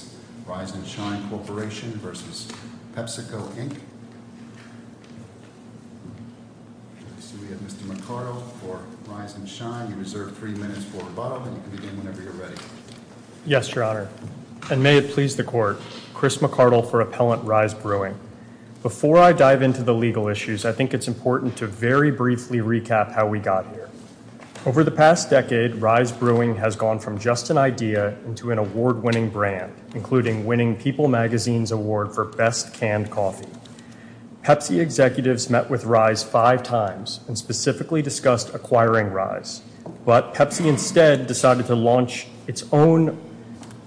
So we have Mr. McCardle for Rise and Shine. You reserve three minutes for rebuttal, and you can begin whenever you're ready. Yes, Your Honor. And may it please the Court, Chris McCardle for Appellant Rise Brewing. Before I dive into the legal issues, I think it's important to very briefly recap how we got here. Over the past decade, Rise Brewing has gone from just an idea into an award-winning brand, including winning People Magazine's award for best canned coffee. Pepsi executives met with Rise five times and specifically discussed acquiring Rise, but Pepsi instead decided to launch its own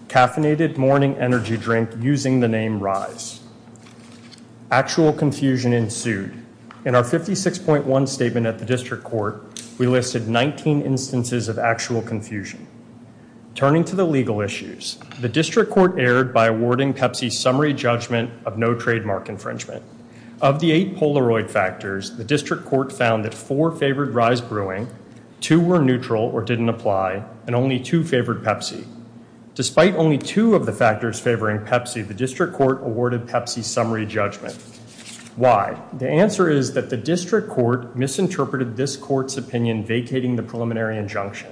caffeinated morning energy drink using the name Rise. Actual confusion ensued. In our 56.1 statement at the District Court, we listed 19 instances of actual confusion. Turning to the legal issues, the District Court erred by awarding Pepsi summary judgment of no trademark infringement. Of the eight Polaroid factors, the District Court found that four favored Rise Brewing, two were neutral or didn't apply, and only two favored Pepsi. Despite only two of the factors favoring Pepsi, the District Court awarded Pepsi summary judgment. Why? The answer is that the District Court misinterpreted this Court's opinion vacating the preliminary injunction.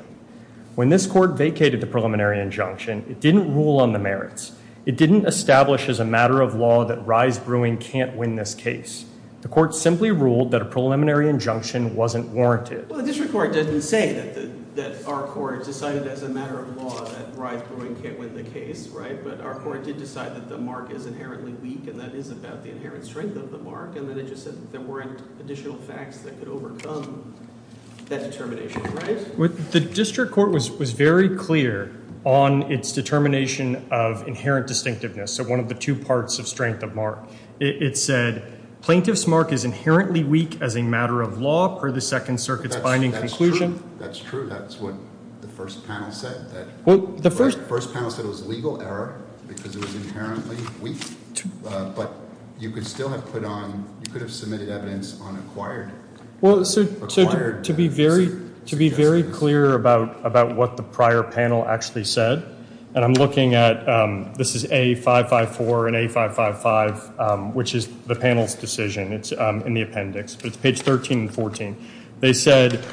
When this Court vacated the preliminary injunction, it didn't rule on the merits. It didn't establish as a matter of law that Rise Brewing can't win this case. The Court simply ruled that a preliminary injunction wasn't warranted. Well, the District Court didn't say that our Court decided as a matter of law that Rise Brewing can't win the case, right? But our Court did decide that the mark is inherently weak, and that is about the inherent strength of the mark. And then it just said there weren't additional facts that could overcome that determination, right? The District Court was very clear on its determination of inherent distinctiveness, so one of the two parts of strength of mark. It said plaintiff's mark is inherently weak as a matter of law per the Second Circuit's binding conclusion. That's true. That's what the first panel said. The first panel said it was a legal error because it was inherently weak, but you could still have put on, you could have submitted evidence on acquired. So to be very clear about what the prior panel actually said, and I'm looking at, this is A554 and A555, which is the panel's decision. It's in the appendix, but it's page 13 and 14. They said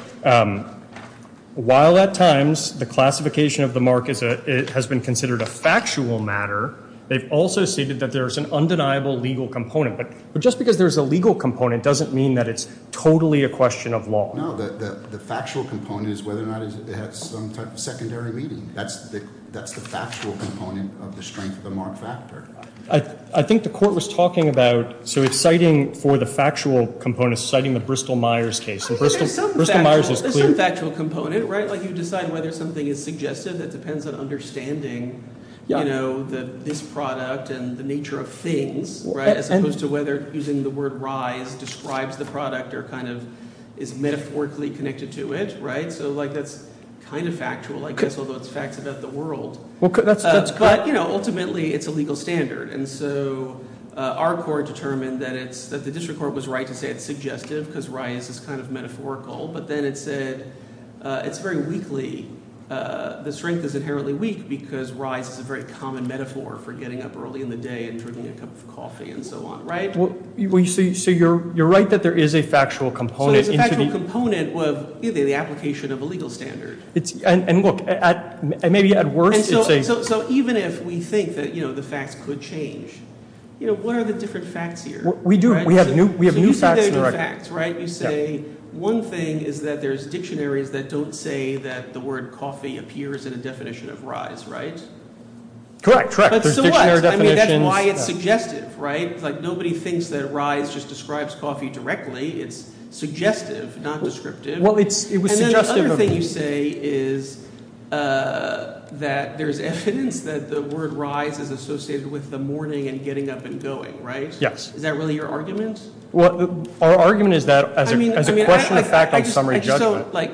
while at times the classification of the mark has been considered a factual matter, they've also stated that there's an undeniable legal component. But just because there's a legal component doesn't mean that it's totally a question of law. No, the factual component is whether or not it had some type of secondary meaning. That's the factual component of the strength of the mark factor. I think the court was talking about, so it's citing for the factual component, it's citing the Bristol-Myers case. There's some factual component, right? Like you decide whether something is suggested. It depends on understanding this product and the nature of things as opposed to whether using the word rise describes the product or kind of is metaphorically connected to it. So that's kind of factual, I guess, although it's facts about the world. But ultimately it's a legal standard. And so our court determined that the district court was right to say it's suggestive because rise is kind of metaphorical. But then it said it's very weakly – the strength is inherently weak because rise is a very common metaphor for getting up early in the day and drinking a cup of coffee and so on, right? So you're right that there is a factual component. So there's a factual component of either the application of a legal standard. And look, maybe at worst it's a – So even if we think that the facts could change, what are the different facts here? We do. We have new facts in the record. You say one thing is that there's dictionaries that don't say that the word coffee appears in a definition of rise, right? Correct, correct. But so what? I mean that's why it's suggestive, right? Like nobody thinks that rise just describes coffee directly. It's suggestive, not descriptive. And then the other thing you say is that there's evidence that the word rise is associated with the morning and getting up and going, right? Yes. Is that really your argument? Well, our argument is that as a question of fact on summary judgment. I just don't – like,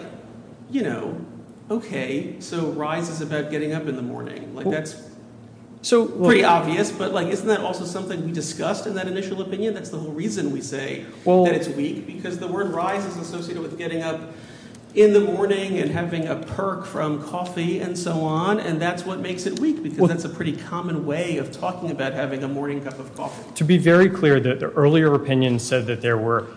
you know, okay, so rise is about getting up in the morning. Like that's pretty obvious. But like isn't that also something we discussed in that initial opinion? That's the whole reason we say that it's weak because the word rise is associated with getting up in the morning and having a perk from coffee and so on. And that's what makes it weak because that's a pretty common way of talking about having a morning cup of coffee. To be very clear, the earlier opinion said that there were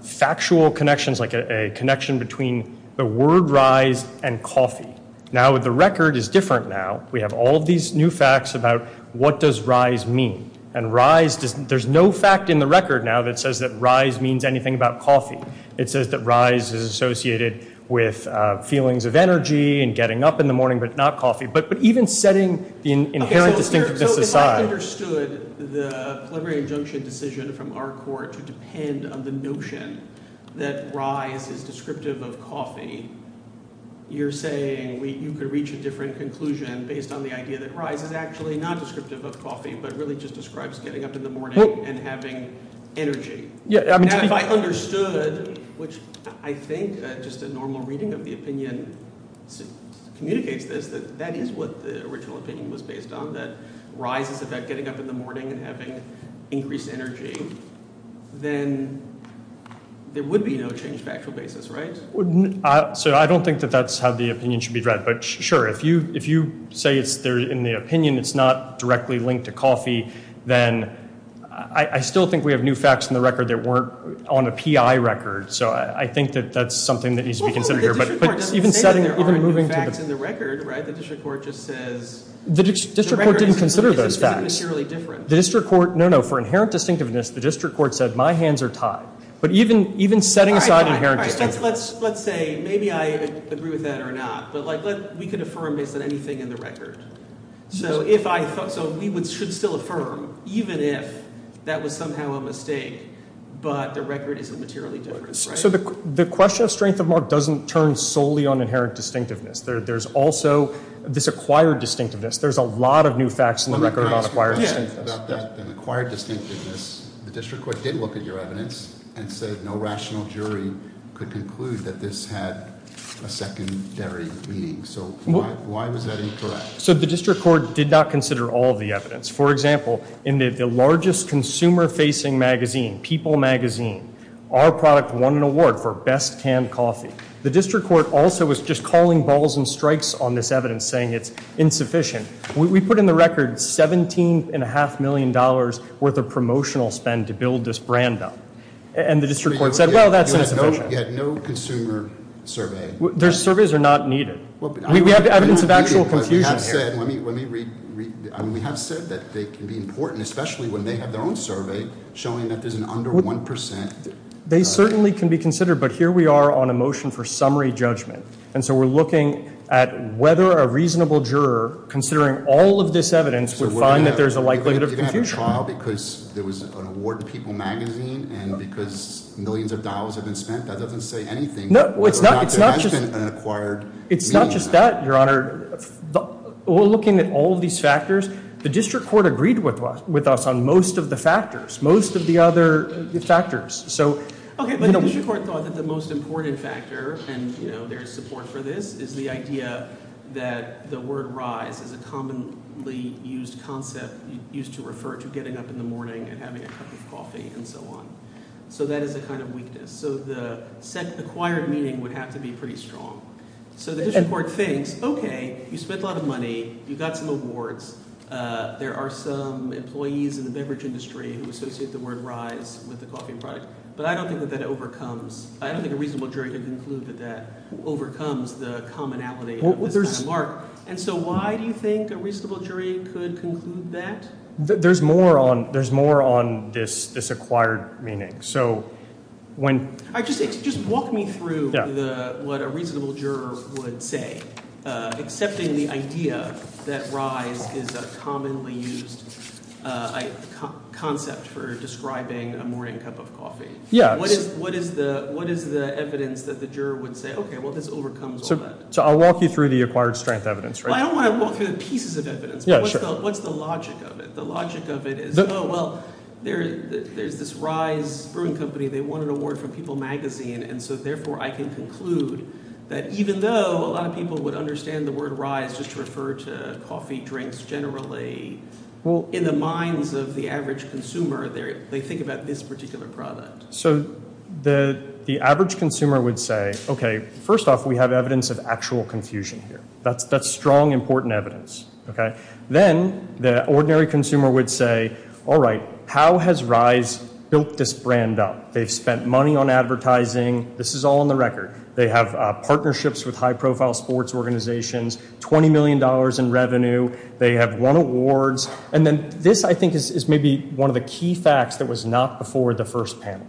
factual connections, like a connection between the word rise and coffee. Now the record is different now. We have all of these new facts about what does rise mean. And rise – there's no fact in the record now that says that rise means anything about coffee. It says that rise is associated with feelings of energy and getting up in the morning but not coffee. But even setting the inherent distinctiveness aside. So if I understood the preliminary injunction decision from our court to depend on the notion that rise is descriptive of coffee, you're saying you could reach a different conclusion based on the idea that rise is actually not descriptive of coffee but really just describes getting up in the morning and having energy. Now if I understood, which I think just a normal reading of the opinion communicates this, that that is what the original opinion was based on. That rise is about getting up in the morning and having increased energy. Then there would be no change of actual basis, right? So I don't think that that's how the opinion should be read. But sure, if you say in the opinion it's not directly linked to coffee, then I still think we have new facts in the record that weren't on a PI record. So I think that that's something that needs to be considered here. Well, the district court doesn't say there are new facts in the record, right? The district court just says – The district court didn't consider those facts. The district court – no, no. For inherent distinctiveness, the district court said my hands are tied. But even setting aside inherent distinctiveness – All right, let's say maybe I agree with that or not. But we could affirm based on anything in the record. So we should still affirm even if that was somehow a mistake, but the record isn't materially different, right? So the question of strength of mark doesn't turn solely on inherent distinctiveness. There's also this acquired distinctiveness. There's a lot of new facts in the record about acquired distinctiveness. The district court did look at your evidence and said no rational jury could conclude that this had a secondary meaning. So why was that incorrect? So the district court did not consider all of the evidence. For example, in the largest consumer-facing magazine, People magazine, our product won an award for best canned coffee. The district court also was just calling balls and strikes on this evidence, saying it's insufficient. We put in the record $17.5 million worth of promotional spend to build this brand up. And the district court said, well, that's insufficient. You had no consumer survey. Their surveys are not needed. We have evidence of actual confusion here. We have said that they can be important, especially when they have their own survey showing that there's an under 1%. They certainly can be considered, but here we are on a motion for summary judgment. And so we're looking at whether a reasonable juror, considering all of this evidence, would find that there's a likelihood of confusion. You didn't have a trial because there was an award in People magazine and because millions of dollars have been spent? That doesn't say anything. No, it's not just that, Your Honor. We're looking at all of these factors. The district court agreed with us on most of the factors, most of the other factors. Okay, but the district court thought that the most important factor, and there is support for this, is the idea that the word rise is a commonly used concept used to refer to getting up in the morning and having a cup of coffee and so on. So that is a kind of weakness. So the acquired meaning would have to be pretty strong. So the district court thinks, okay, you spent a lot of money. You got some awards. There are some employees in the beverage industry who associate the word rise with the coffee product. But I don't think that that overcomes – I don't think a reasonable jury can conclude that that overcomes the commonality of this kind of mark. And so why do you think a reasonable jury could conclude that? There's more on this acquired meaning. Just walk me through what a reasonable juror would say, accepting the idea that rise is a commonly used concept for describing a morning cup of coffee. What is the evidence that the juror would say, okay, well, this overcomes all that? So I'll walk you through the acquired strength evidence. Well, I don't want to walk through the pieces of evidence. What's the logic of it? Well, there's this Rise Brewing Company. They won an award from People Magazine. And so therefore I can conclude that even though a lot of people would understand the word rise just to refer to coffee drinks generally, in the minds of the average consumer, they think about this particular product. So the average consumer would say, okay, first off, we have evidence of actual confusion here. That's strong, important evidence. Then the ordinary consumer would say, all right, how has Rise built this brand up? They've spent money on advertising. This is all on the record. They have partnerships with high-profile sports organizations, $20 million in revenue. They have won awards. And then this, I think, is maybe one of the key facts that was not before the first panel.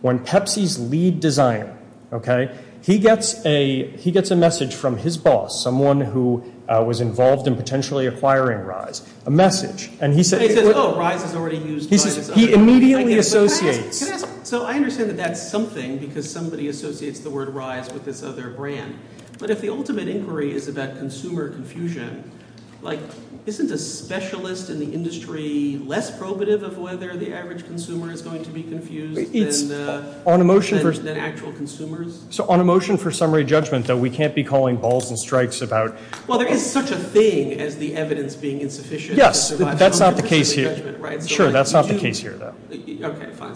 When Pepsi's lead designer, okay, he gets a message from his boss, someone who was involved in potentially acquiring Rise, a message. And he says, oh, Rise is already used by a designer. He immediately associates. So I understand that that's something because somebody associates the word rise with this other brand. But if the ultimate inquiry is about consumer confusion, like, isn't a specialist in the industry less probative of whether the average consumer is going to be confused than actual consumers? So on a motion for summary judgment, though, we can't be calling balls and strikes about – Well, there is such a thing as the evidence being insufficient. Yes, but that's not the case here. Sure, that's not the case here, though. Okay, fine.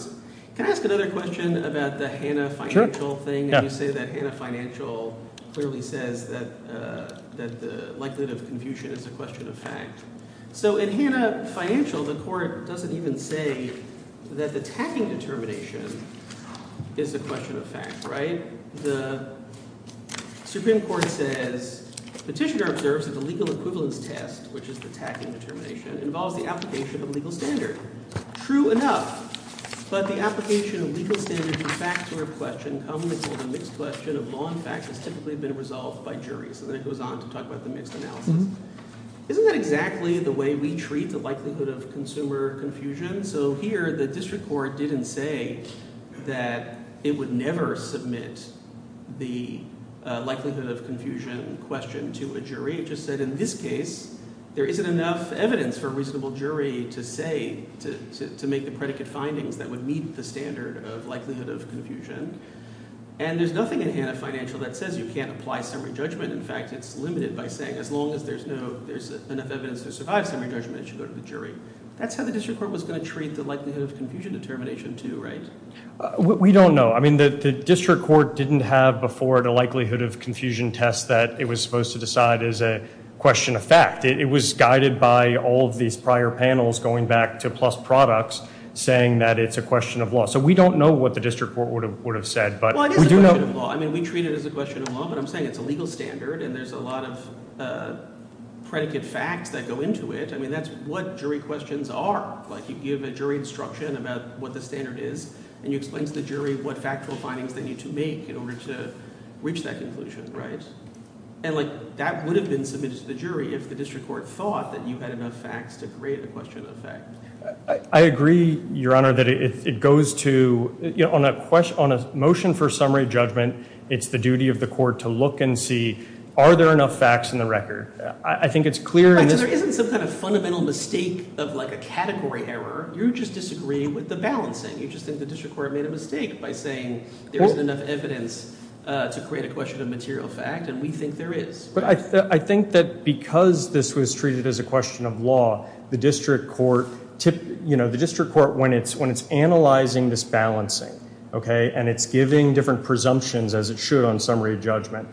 Can I ask another question about the Hanna Financial thing? You say that Hanna Financial clearly says that the likelihood of confusion is a question of fact. So in Hanna Financial, the court doesn't even say that the tacking determination is a question of fact, right? The Supreme Court says petitioner observes that the legal equivalence test, which is the tacking determination, involves the application of a legal standard. True enough, but the application of legal standards of fact to a question commonly called a mixed question of law and facts has typically been resolved by jury. So then it goes on to talk about the mixed analysis. Isn't that exactly the way we treat the likelihood of consumer confusion? So here the district court didn't say that it would never submit the likelihood of confusion question to a jury. It just said in this case there isn't enough evidence for a reasonable jury to make the predicate findings that would meet the standard of likelihood of confusion. And there's nothing in Hanna Financial that says you can't apply summary judgment. In fact, it's limited by saying as long as there's enough evidence to survive summary judgment, it should go to the jury. That's how the district court was going to treat the likelihood of confusion determination too, right? We don't know. I mean, the district court didn't have before the likelihood of confusion test that it was supposed to decide as a question of fact. It was guided by all of these prior panels going back to PLUS Products saying that it's a question of law. So we don't know what the district court would have said, but we do know— Well, it is a question of law. I mean, we treat it as a question of law, but I'm saying it's a legal standard and there's a lot of predicate facts that go into it. I mean, that's what jury questions are. Like, you give a jury instruction about what the standard is and you explain to the jury what factual findings they need to make in order to reach that conclusion, right? And, like, that would have been submitted to the jury if the district court thought that you had enough facts to create a question of fact. I agree, Your Honor, that it goes to—on a motion for summary judgment, it's the duty of the court to look and see are there enough facts in the record. I think it's clear in this— In the case of, like, a category error, you just disagree with the balancing. You just think the district court made a mistake by saying there isn't enough evidence to create a question of material fact, and we think there is. But I think that because this was treated as a question of law, the district court—you know, the district court, when it's analyzing this balancing, okay, and it's giving different presumptions as it should on summary judgment,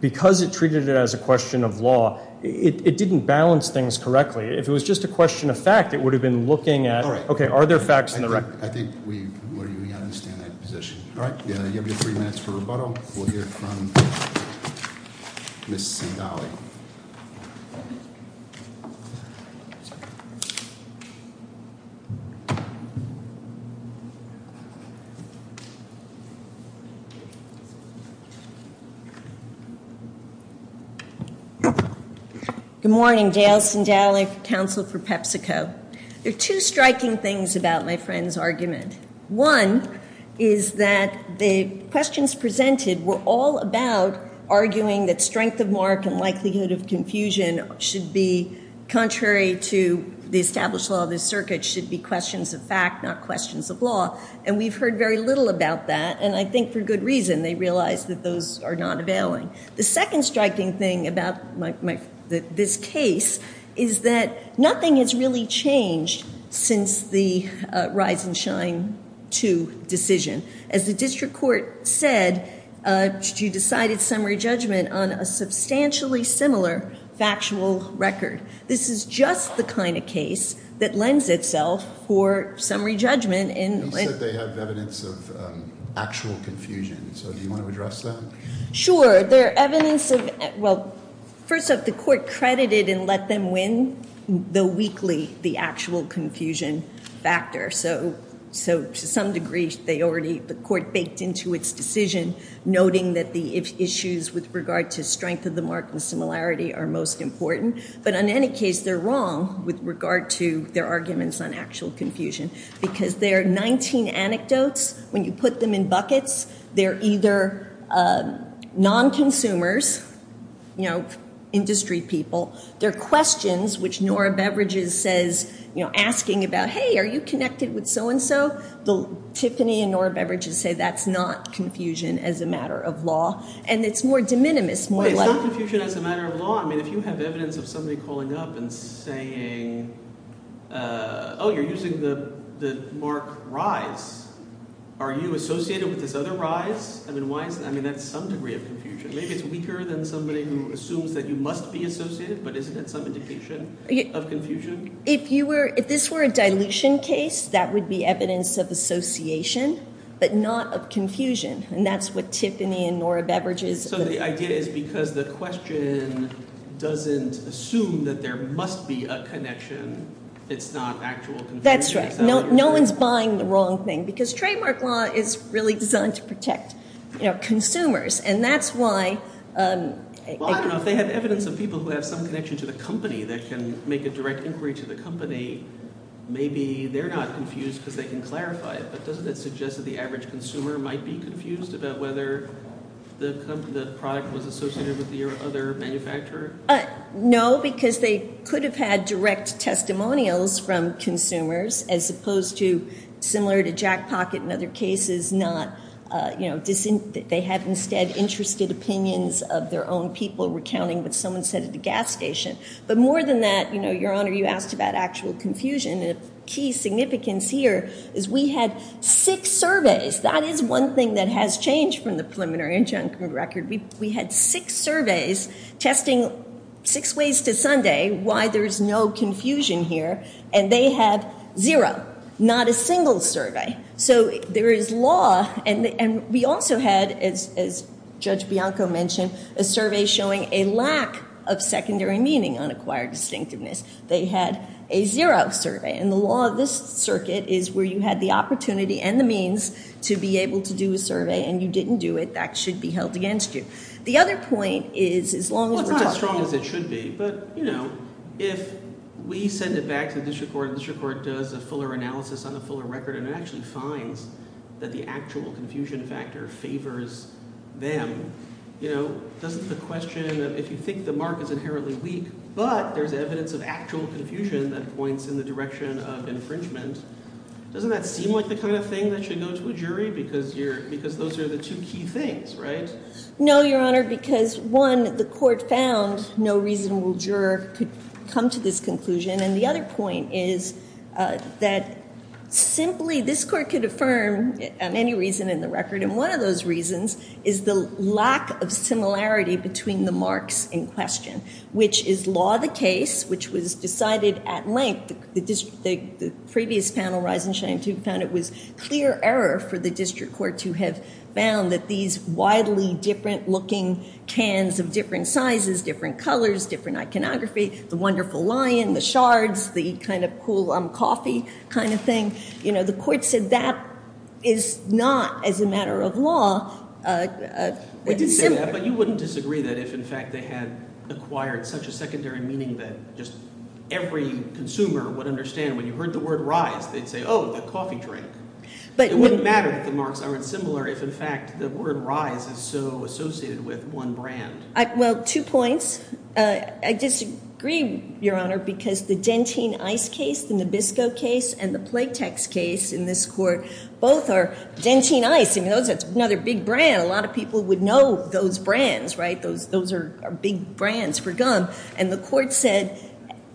because it treated it as a question of law, it didn't balance things correctly. If it was just a question of fact, it would have been looking at, okay, are there facts in the record? I think we understand that position. All right. You have three minutes for rebuttal. We'll hear from Ms. Sindali. Ms. Sindali. Good morning. Gail Sindali, counsel for PepsiCo. There are two striking things about my friend's argument. One is that the questions presented were all about arguing that strength of mark and likelihood of confusion should be contrary to the established law of the circuit, should be questions of fact, not questions of law. And we've heard very little about that, and I think for good reason. They realize that those are not availing. The second striking thing about this case is that nothing has really changed since the Rise and Shine II decision. As the district court said, you decided summary judgment on a substantially similar factual record. This is just the kind of case that lends itself for summary judgment. You said they have evidence of actual confusion, so do you want to address that? Sure. There are evidence of, well, first off, the court credited and let them win, though weakly, the actual confusion factor. So to some degree, they already, the court baked into its decision, noting that the issues with regard to strength of the mark and similarity are most important. But in any case, they're wrong with regard to their arguments on actual confusion because there are 19 anecdotes. When you put them in buckets, they're either non-consumers, industry people. They're questions, which Nora Beverages says, asking about, hey, are you connected with so-and-so? Tiffany and Nora Beverages say that's not confusion as a matter of law, and it's more de minimis, more like – It's not confusion as a matter of law. I mean if you have evidence of somebody calling up and saying, oh, you're using the mark rise, are you associated with this other rise? I mean why is – I mean that's some degree of confusion. Maybe it's weaker than somebody who assumes that you must be associated, but isn't it some indication of confusion? If you were – if this were a dilution case, that would be evidence of association but not of confusion, and that's what Tiffany and Nora Beverages – So the idea is because the question doesn't assume that there must be a connection, it's not actual confusion. That's right. No one is buying the wrong thing because trademark law is really designed to protect consumers, and that's why – Well, I don't know. If they have evidence of people who have some connection to the company that can make a direct inquiry to the company, maybe they're not confused because they can clarify it. But doesn't that suggest that the average consumer might be confused about whether the product was associated with the other manufacturer? No, because they could have had direct testimonials from consumers as opposed to similar to Jack Pocket and other cases, not – they have instead interested opinions of their own people recounting what someone said at the gas station. But more than that, Your Honor, you asked about actual confusion. The key significance here is we had six surveys. That is one thing that has changed from the preliminary injunction record. We had six surveys testing six ways to Sunday why there's no confusion here, and they had zero, not a single survey. So there is law, and we also had, as Judge Bianco mentioned, a survey showing a lack of secondary meaning on acquired distinctiveness. They had a zero survey, and the law of this circuit is where you had the opportunity and the means to be able to do a survey, and you didn't do it. That should be held against you. The other point is as long as we're talking about – Well, it's not as strong as it should be. But if we send it back to the district court and the district court does a fuller analysis on a fuller record and it actually finds that the actual confusion factor favors them, doesn't the question of if you think the mark is inherently weak but there's evidence of actual confusion that points in the direction of infringement, doesn't that seem like the kind of thing that should go to a jury because those are the two key things, right? No, Your Honor, because one, the court found no reasonable juror could come to this conclusion, and the other point is that simply this court could affirm on any reason in the record, and one of those reasons is the lack of similarity between the marks in question, which is law the case, which was decided at length. The previous panel, Rise and Shine II, found it was clear error for the district court to have found that these widely different looking cans of different sizes, different colors, different iconography, the wonderful lion, the shards, the kind of cool coffee kind of thing, you know, the court said that is not as a matter of law. But you wouldn't disagree that if, in fact, they had acquired such a secondary meaning that just every consumer would understand when you heard the word rise, they'd say, oh, the coffee drink. It wouldn't matter if the marks aren't similar if, in fact, the word rise is so associated with one brand. Well, two points. I disagree, Your Honor, because the Gentine Ice case, the Nabisco case, and the Playtex case in this court, both are Gentine Ice. You know, that's another big brand. A lot of people would know those brands, right? Those are big brands for gum, and the court said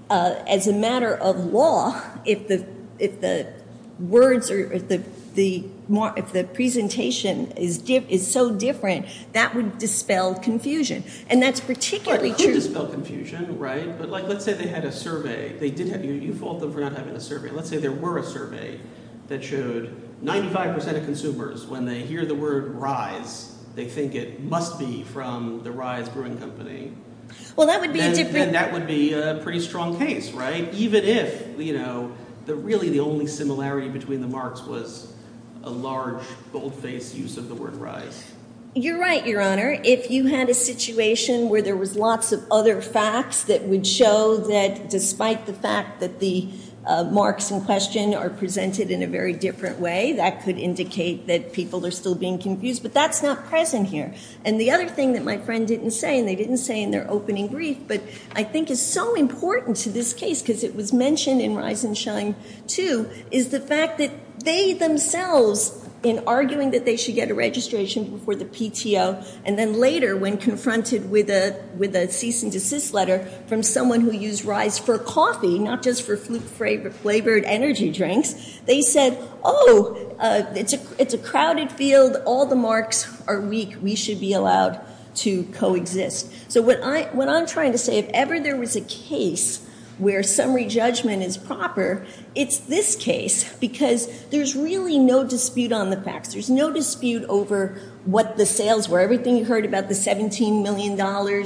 as a matter of law, if the words or if the presentation is so different, that would dispel confusion, and that's particularly true. Well, it could dispel confusion, right? But, like, let's say they had a survey. You fault them for not having a survey. Let's say there were a survey that showed 95% of consumers, when they hear the word rise, they think it must be from the Rise Brewing Company. Well, that would be a different – And that would be a pretty strong case, right? Even if, you know, really the only similarity between the marks was a large, bold-faced use of the word rise. You're right, Your Honor. If you had a situation where there was lots of other facts that would show that, despite the fact that the marks in question are presented in a very different way, that could indicate that people are still being confused, but that's not present here. And the other thing that my friend didn't say, and they didn't say in their opening brief, but I think is so important to this case because it was mentioned in Rise and Shine, too, is the fact that they themselves, in arguing that they should get a registration for the PTO, and then later, when confronted with a cease and desist letter from someone who used Rise for coffee, not just for flavored energy drinks, they said, oh, it's a crowded field. All the marks are weak. We should be allowed to coexist. So what I'm trying to say, if ever there was a case where summary judgment is proper, it's this case because there's really no dispute on the facts. There's no dispute over what the sales were, everything you heard about the $17 million,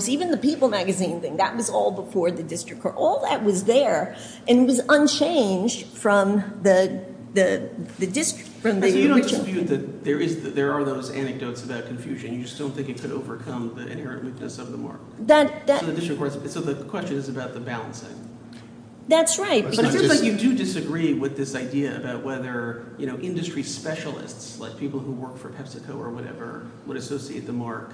even the People magazine thing, that was all before the district court. All that was there and was unchanged from the district. So you don't dispute that there are those anecdotes about confusion. You just don't think it could overcome the inherent weakness of the mark. So the question is about the balancing. That's right. But it seems like you do disagree with this idea about whether industry specialists, like people who work for PepsiCo or whatever, would associate the mark.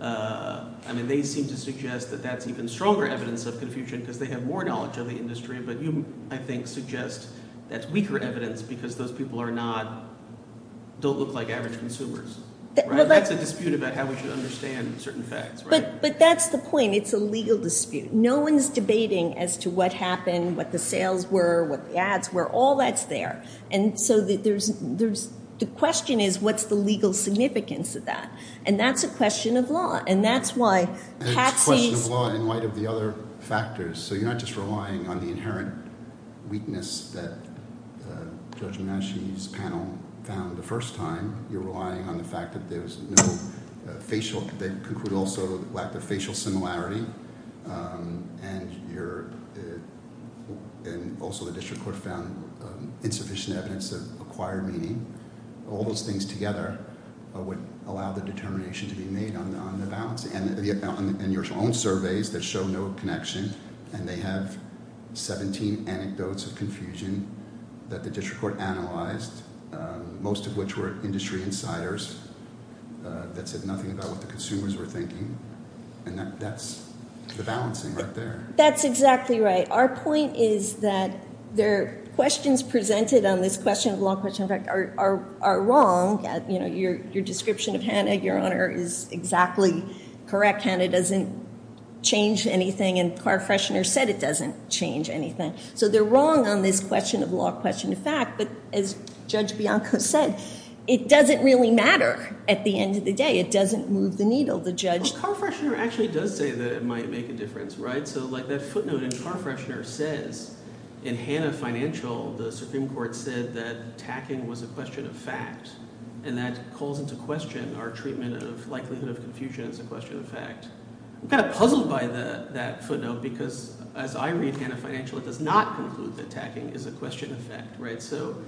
I mean they seem to suggest that that's even stronger evidence of confusion because they have more knowledge of the industry, but you, I think, suggest that's weaker evidence because those people don't look like average consumers. That's a dispute about how we should understand certain facts, right? But that's the point. It's a legal dispute. No one is debating as to what happened, what the sales were, what the ads were. All that's there. And so the question is what's the legal significance of that? And that's a question of law, and that's why Pepsi's – And it's a question of law in light of the other factors. So you're not just relying on the inherent weakness that Judge Manasci's panel found the first time. You're relying on the fact that there was no facial – that concluded also the lack of facial similarity, and also the district court found insufficient evidence of acquired meaning. All those things together would allow the determination to be made on the balance. And your own surveys that show no connection, and they have 17 anecdotes of confusion that the district court analyzed, most of which were industry insiders that said nothing about what the consumers were thinking. And that's the balancing right there. That's exactly right. Our point is that the questions presented on this question of law, question of fact, are wrong. You know, your description of Hanna, Your Honor, is exactly correct. Hanna doesn't change anything, and Carfreshner said it doesn't change anything. So they're wrong on this question of law, question of fact. But as Judge Bianco said, it doesn't really matter at the end of the day. It doesn't move the needle. The judge – Well, Carfreshner actually does say that it might make a difference, right? So like that footnote in Carfreshner says, in Hanna Financial, the Supreme Court said that tacking was a question of fact, and that calls into question our treatment of likelihood of confusion as a question of fact. I'm kind of puzzled by that footnote because as I read Hanna Financial, it does not conclude that tacking is a question of fact, right? So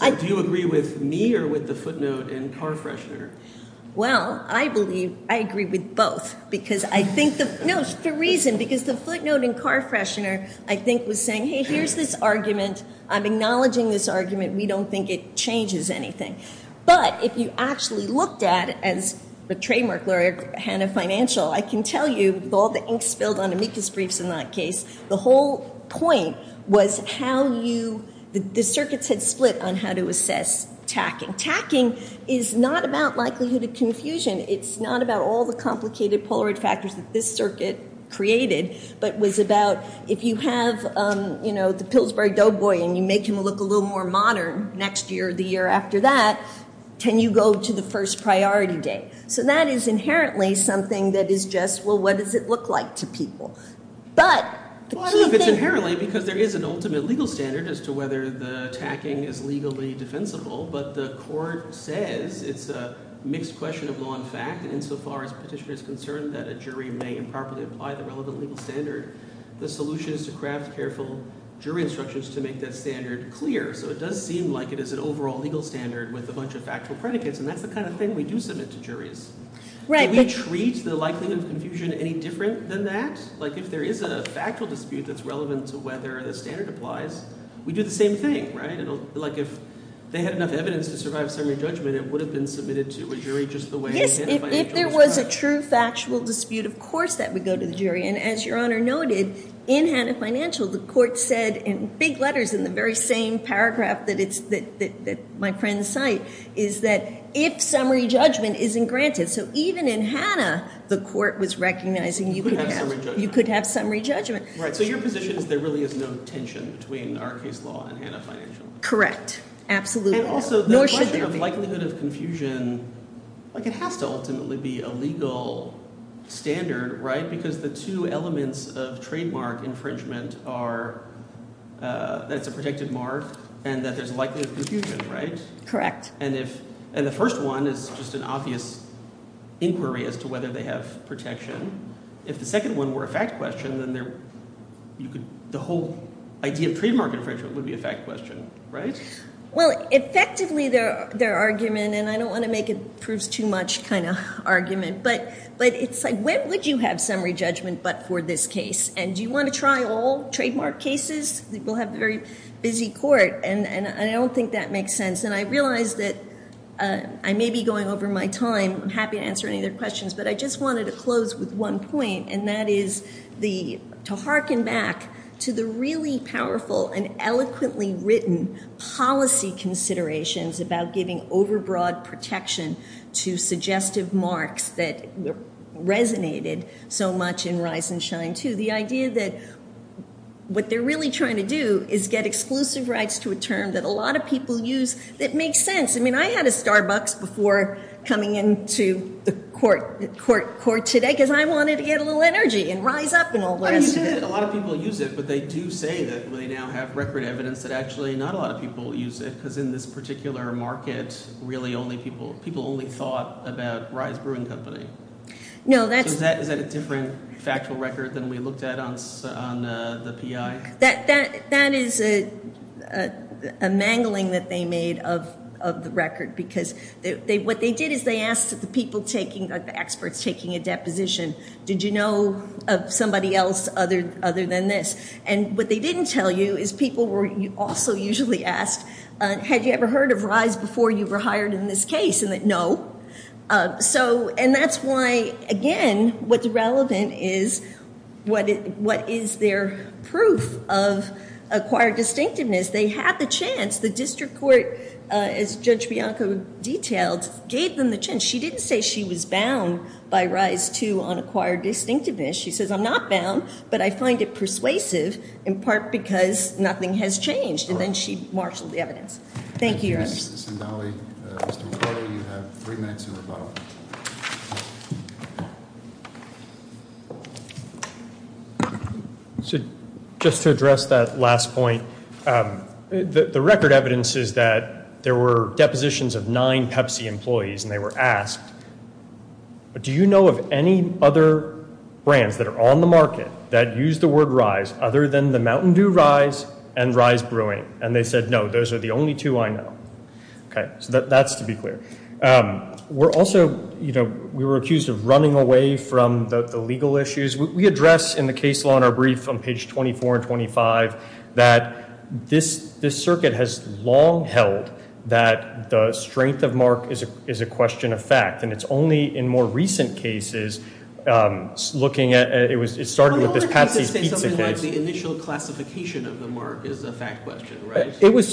do you agree with me or with the footnote in Carfreshner? Well, I believe I agree with both because I think the – no, the reason, because the footnote in Carfreshner I think was saying, hey, here's this argument. I'm acknowledging this argument. We don't think it changes anything. But if you actually looked at it as the trademark lawyer, Hanna Financial, I can tell you with all the ink spilled on amicus briefs in that case, the whole point was how you – the circuits had split on how to assess tacking. Tacking is not about likelihood of confusion. It's not about all the complicated polaroid factors that this circuit created, but was about if you have, you know, the Pillsbury Doughboy and you make him look a little more modern next year or the year after that, can you go to the first priority date? So that is inherently something that is just, well, what does it look like to people? But the key thing – But if it's inherently because there is an ultimate legal standard as to whether the tacking is legally defensible, but the court says it's a mixed question of law and fact insofar as petitioner is concerned that a jury may improperly apply the relevant legal standard, the solution is to craft careful jury instructions to make that standard clear. So it does seem like it is an overall legal standard with a bunch of factual predicates, and that's the kind of thing we do submit to juries. Do we treat the likelihood of confusion any different than that? Like if there is a factual dispute that's relevant to whether the standard applies, we do the same thing, right? Like if they had enough evidence to survive a summary judgment, it would have been submitted to a jury just the way Hanna Financial does. Yes, if there was a true factual dispute, of course that would go to the jury. And as Your Honor noted, in Hanna Financial, the court said in big letters in the very same paragraph that my friends cite is that if summary judgment isn't granted. So even in Hanna, the court was recognizing you could have summary judgment. So your position is there really is no tension between our case law and Hanna Financial? Correct. Absolutely. And also the question of likelihood of confusion has to ultimately be a legal standard, right? Because the two elements of trademark infringement are that it's a protected mark and that there's a likelihood of confusion, right? Correct. And the first one is just an obvious inquiry as to whether they have protection. If the second one were a fact question, then the whole idea of trademark infringement would be a fact question, right? Well, effectively their argument, and I don't want to make a proves too much kind of argument, but it's like when would you have summary judgment but for this case? And do you want to try all trademark cases? We'll have a very busy court, and I don't think that makes sense. And I realize that I may be going over my time. I'm happy to answer any of their questions, but I just wanted to close with one point, and that is to hearken back to the really powerful and eloquently written policy considerations about giving overbroad protection to suggestive marks that resonated so much in Rise and Shine II, the idea that what they're really trying to do is get exclusive rights to a term that a lot of people use that makes sense. I mean I had a Starbucks before coming into the court today because I wanted to get a little energy and rise up and all that. You did. A lot of people use it, but they do say that they now have record evidence that actually not a lot of people use it because in this particular market, really only people thought about Rise Brewing Company. Is that a different factual record than we looked at on the PI? That is a mangling that they made of the record because what they did is they asked the experts taking a deposition, did you know of somebody else other than this? And what they didn't tell you is people were also usually asked, had you ever heard of Rise before you were hired in this case? No. And that's why, again, what's relevant is what is their proof of acquired distinctiveness. They had the chance. The district court, as Judge Bianco detailed, gave them the chance. She didn't say she was bound by Rise II on acquired distinctiveness. She says, I'm not bound, but I find it persuasive in part because nothing has changed. And then she marshaled the evidence. Thank you, Your Honor. Mr. McCullough, you have three minutes to rebuttal. Just to address that last point, the record evidence is that there were depositions of nine Pepsi employees and they were asked, do you know of any other brands that are on the market that use the word Rise other than the Mountain Dew Rise and Rise Brewing? And they said, no, those are the only two I know. Okay. So that's to be clear. We're also, you know, we were accused of running away from the legal issues. We address in the case law in our brief on page 24 and 25 that this circuit has long held that the strength of Mark is a question of fact. And it's only in more recent cases looking at it started with this Patsy's Pizza case. The initial classification of the Mark is a fact question, right?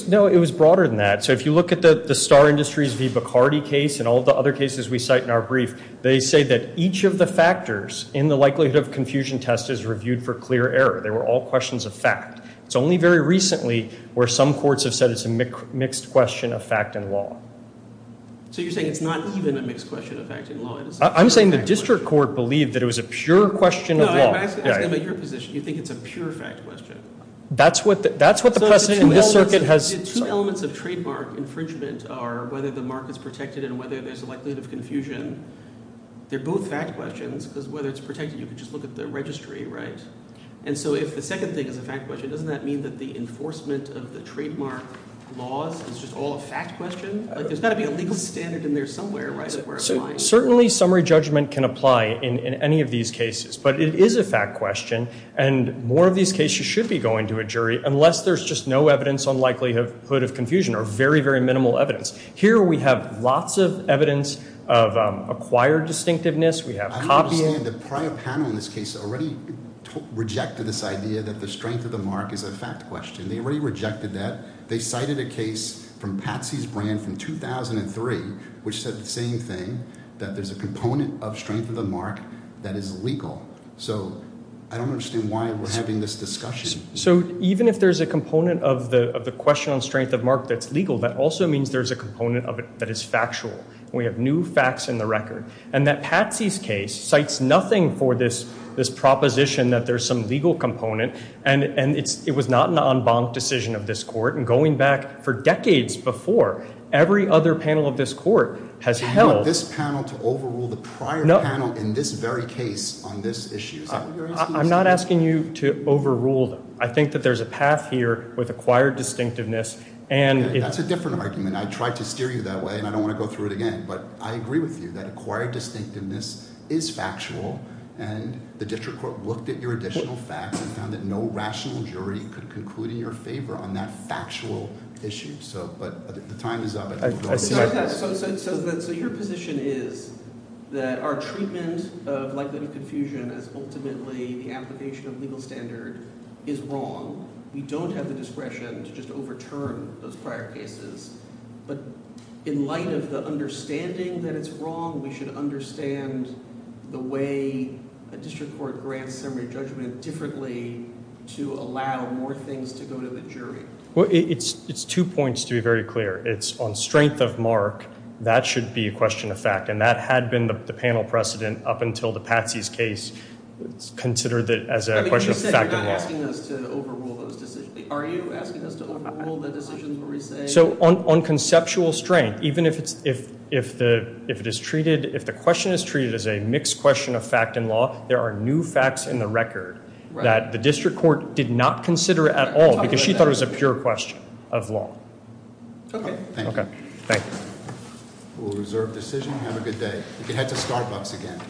No, it was broader than that. So if you look at the Star Industries v. Bacardi case and all the other cases we cite in our brief, they say that each of the factors in the likelihood of confusion test is reviewed for clear error. They were all questions of fact. It's only very recently where some courts have said it's a mixed question of fact and law. So you're saying it's not even a mixed question of fact and law? I'm saying the district court believed that it was a pure question of law. I'm asking about your position. You think it's a pure fact question? That's what the precedent in this circuit has. Two elements of trademark infringement are whether the Mark is protected and whether there's a likelihood of confusion. They're both fact questions because whether it's protected, you can just look at the registry, right? And so if the second thing is a fact question, doesn't that mean that the enforcement of the trademark laws is just all a fact question? There's got to be a legal standard in there somewhere, right, that we're applying. Well, certainly summary judgment can apply in any of these cases. But it is a fact question, and more of these cases should be going to a jury unless there's just no evidence on likelihood of confusion or very, very minimal evidence. Here we have lots of evidence of acquired distinctiveness. We have copies. The prior panel in this case already rejected this idea that the strength of the Mark is a fact question. They already rejected that. They cited a case from Patsy's brand from 2003 which said the same thing, that there's a component of strength of the Mark that is legal. So I don't understand why we're having this discussion. So even if there's a component of the question on strength of Mark that's legal, that also means there's a component of it that is factual. We have new facts in the record. And that Patsy's case cites nothing for this proposition that there's some legal component, and it was not an en banc decision of this court. And going back for decades before, every other panel of this court has held. You want this panel to overrule the prior panel in this very case on this issue. Is that what you're asking? I'm not asking you to overrule them. I think that there's a path here with acquired distinctiveness. That's a different argument. I tried to steer you that way, and I don't want to go through it again. But I agree with you that acquired distinctiveness is factual, and the district court looked at your additional facts and found that no rational jury could conclude in your favor on that factual issue. But the time is up. So your position is that our treatment of likelihood of confusion as ultimately the application of legal standard is wrong. We don't have the discretion to just overturn those prior cases. But in light of the understanding that it's wrong, we should understand the way a district court grants summary judgment differently to allow more things to go to the jury. Well, it's two points to be very clear. It's on strength of mark. That should be a question of fact, and that had been the panel precedent up until the Patsy's case. It's considered as a question of fact of law. You said you're not asking us to overrule those decisions. Are you asking us to overrule the decisions where we say? So on conceptual strength, even if the question is treated as a mixed question of fact and law, there are new facts in the record that the district court did not consider at all because she thought it was a pure question of law. Okay. Thank you. Okay. Thank you. We'll reserve the decision and have a good day. You can head to Starbucks again.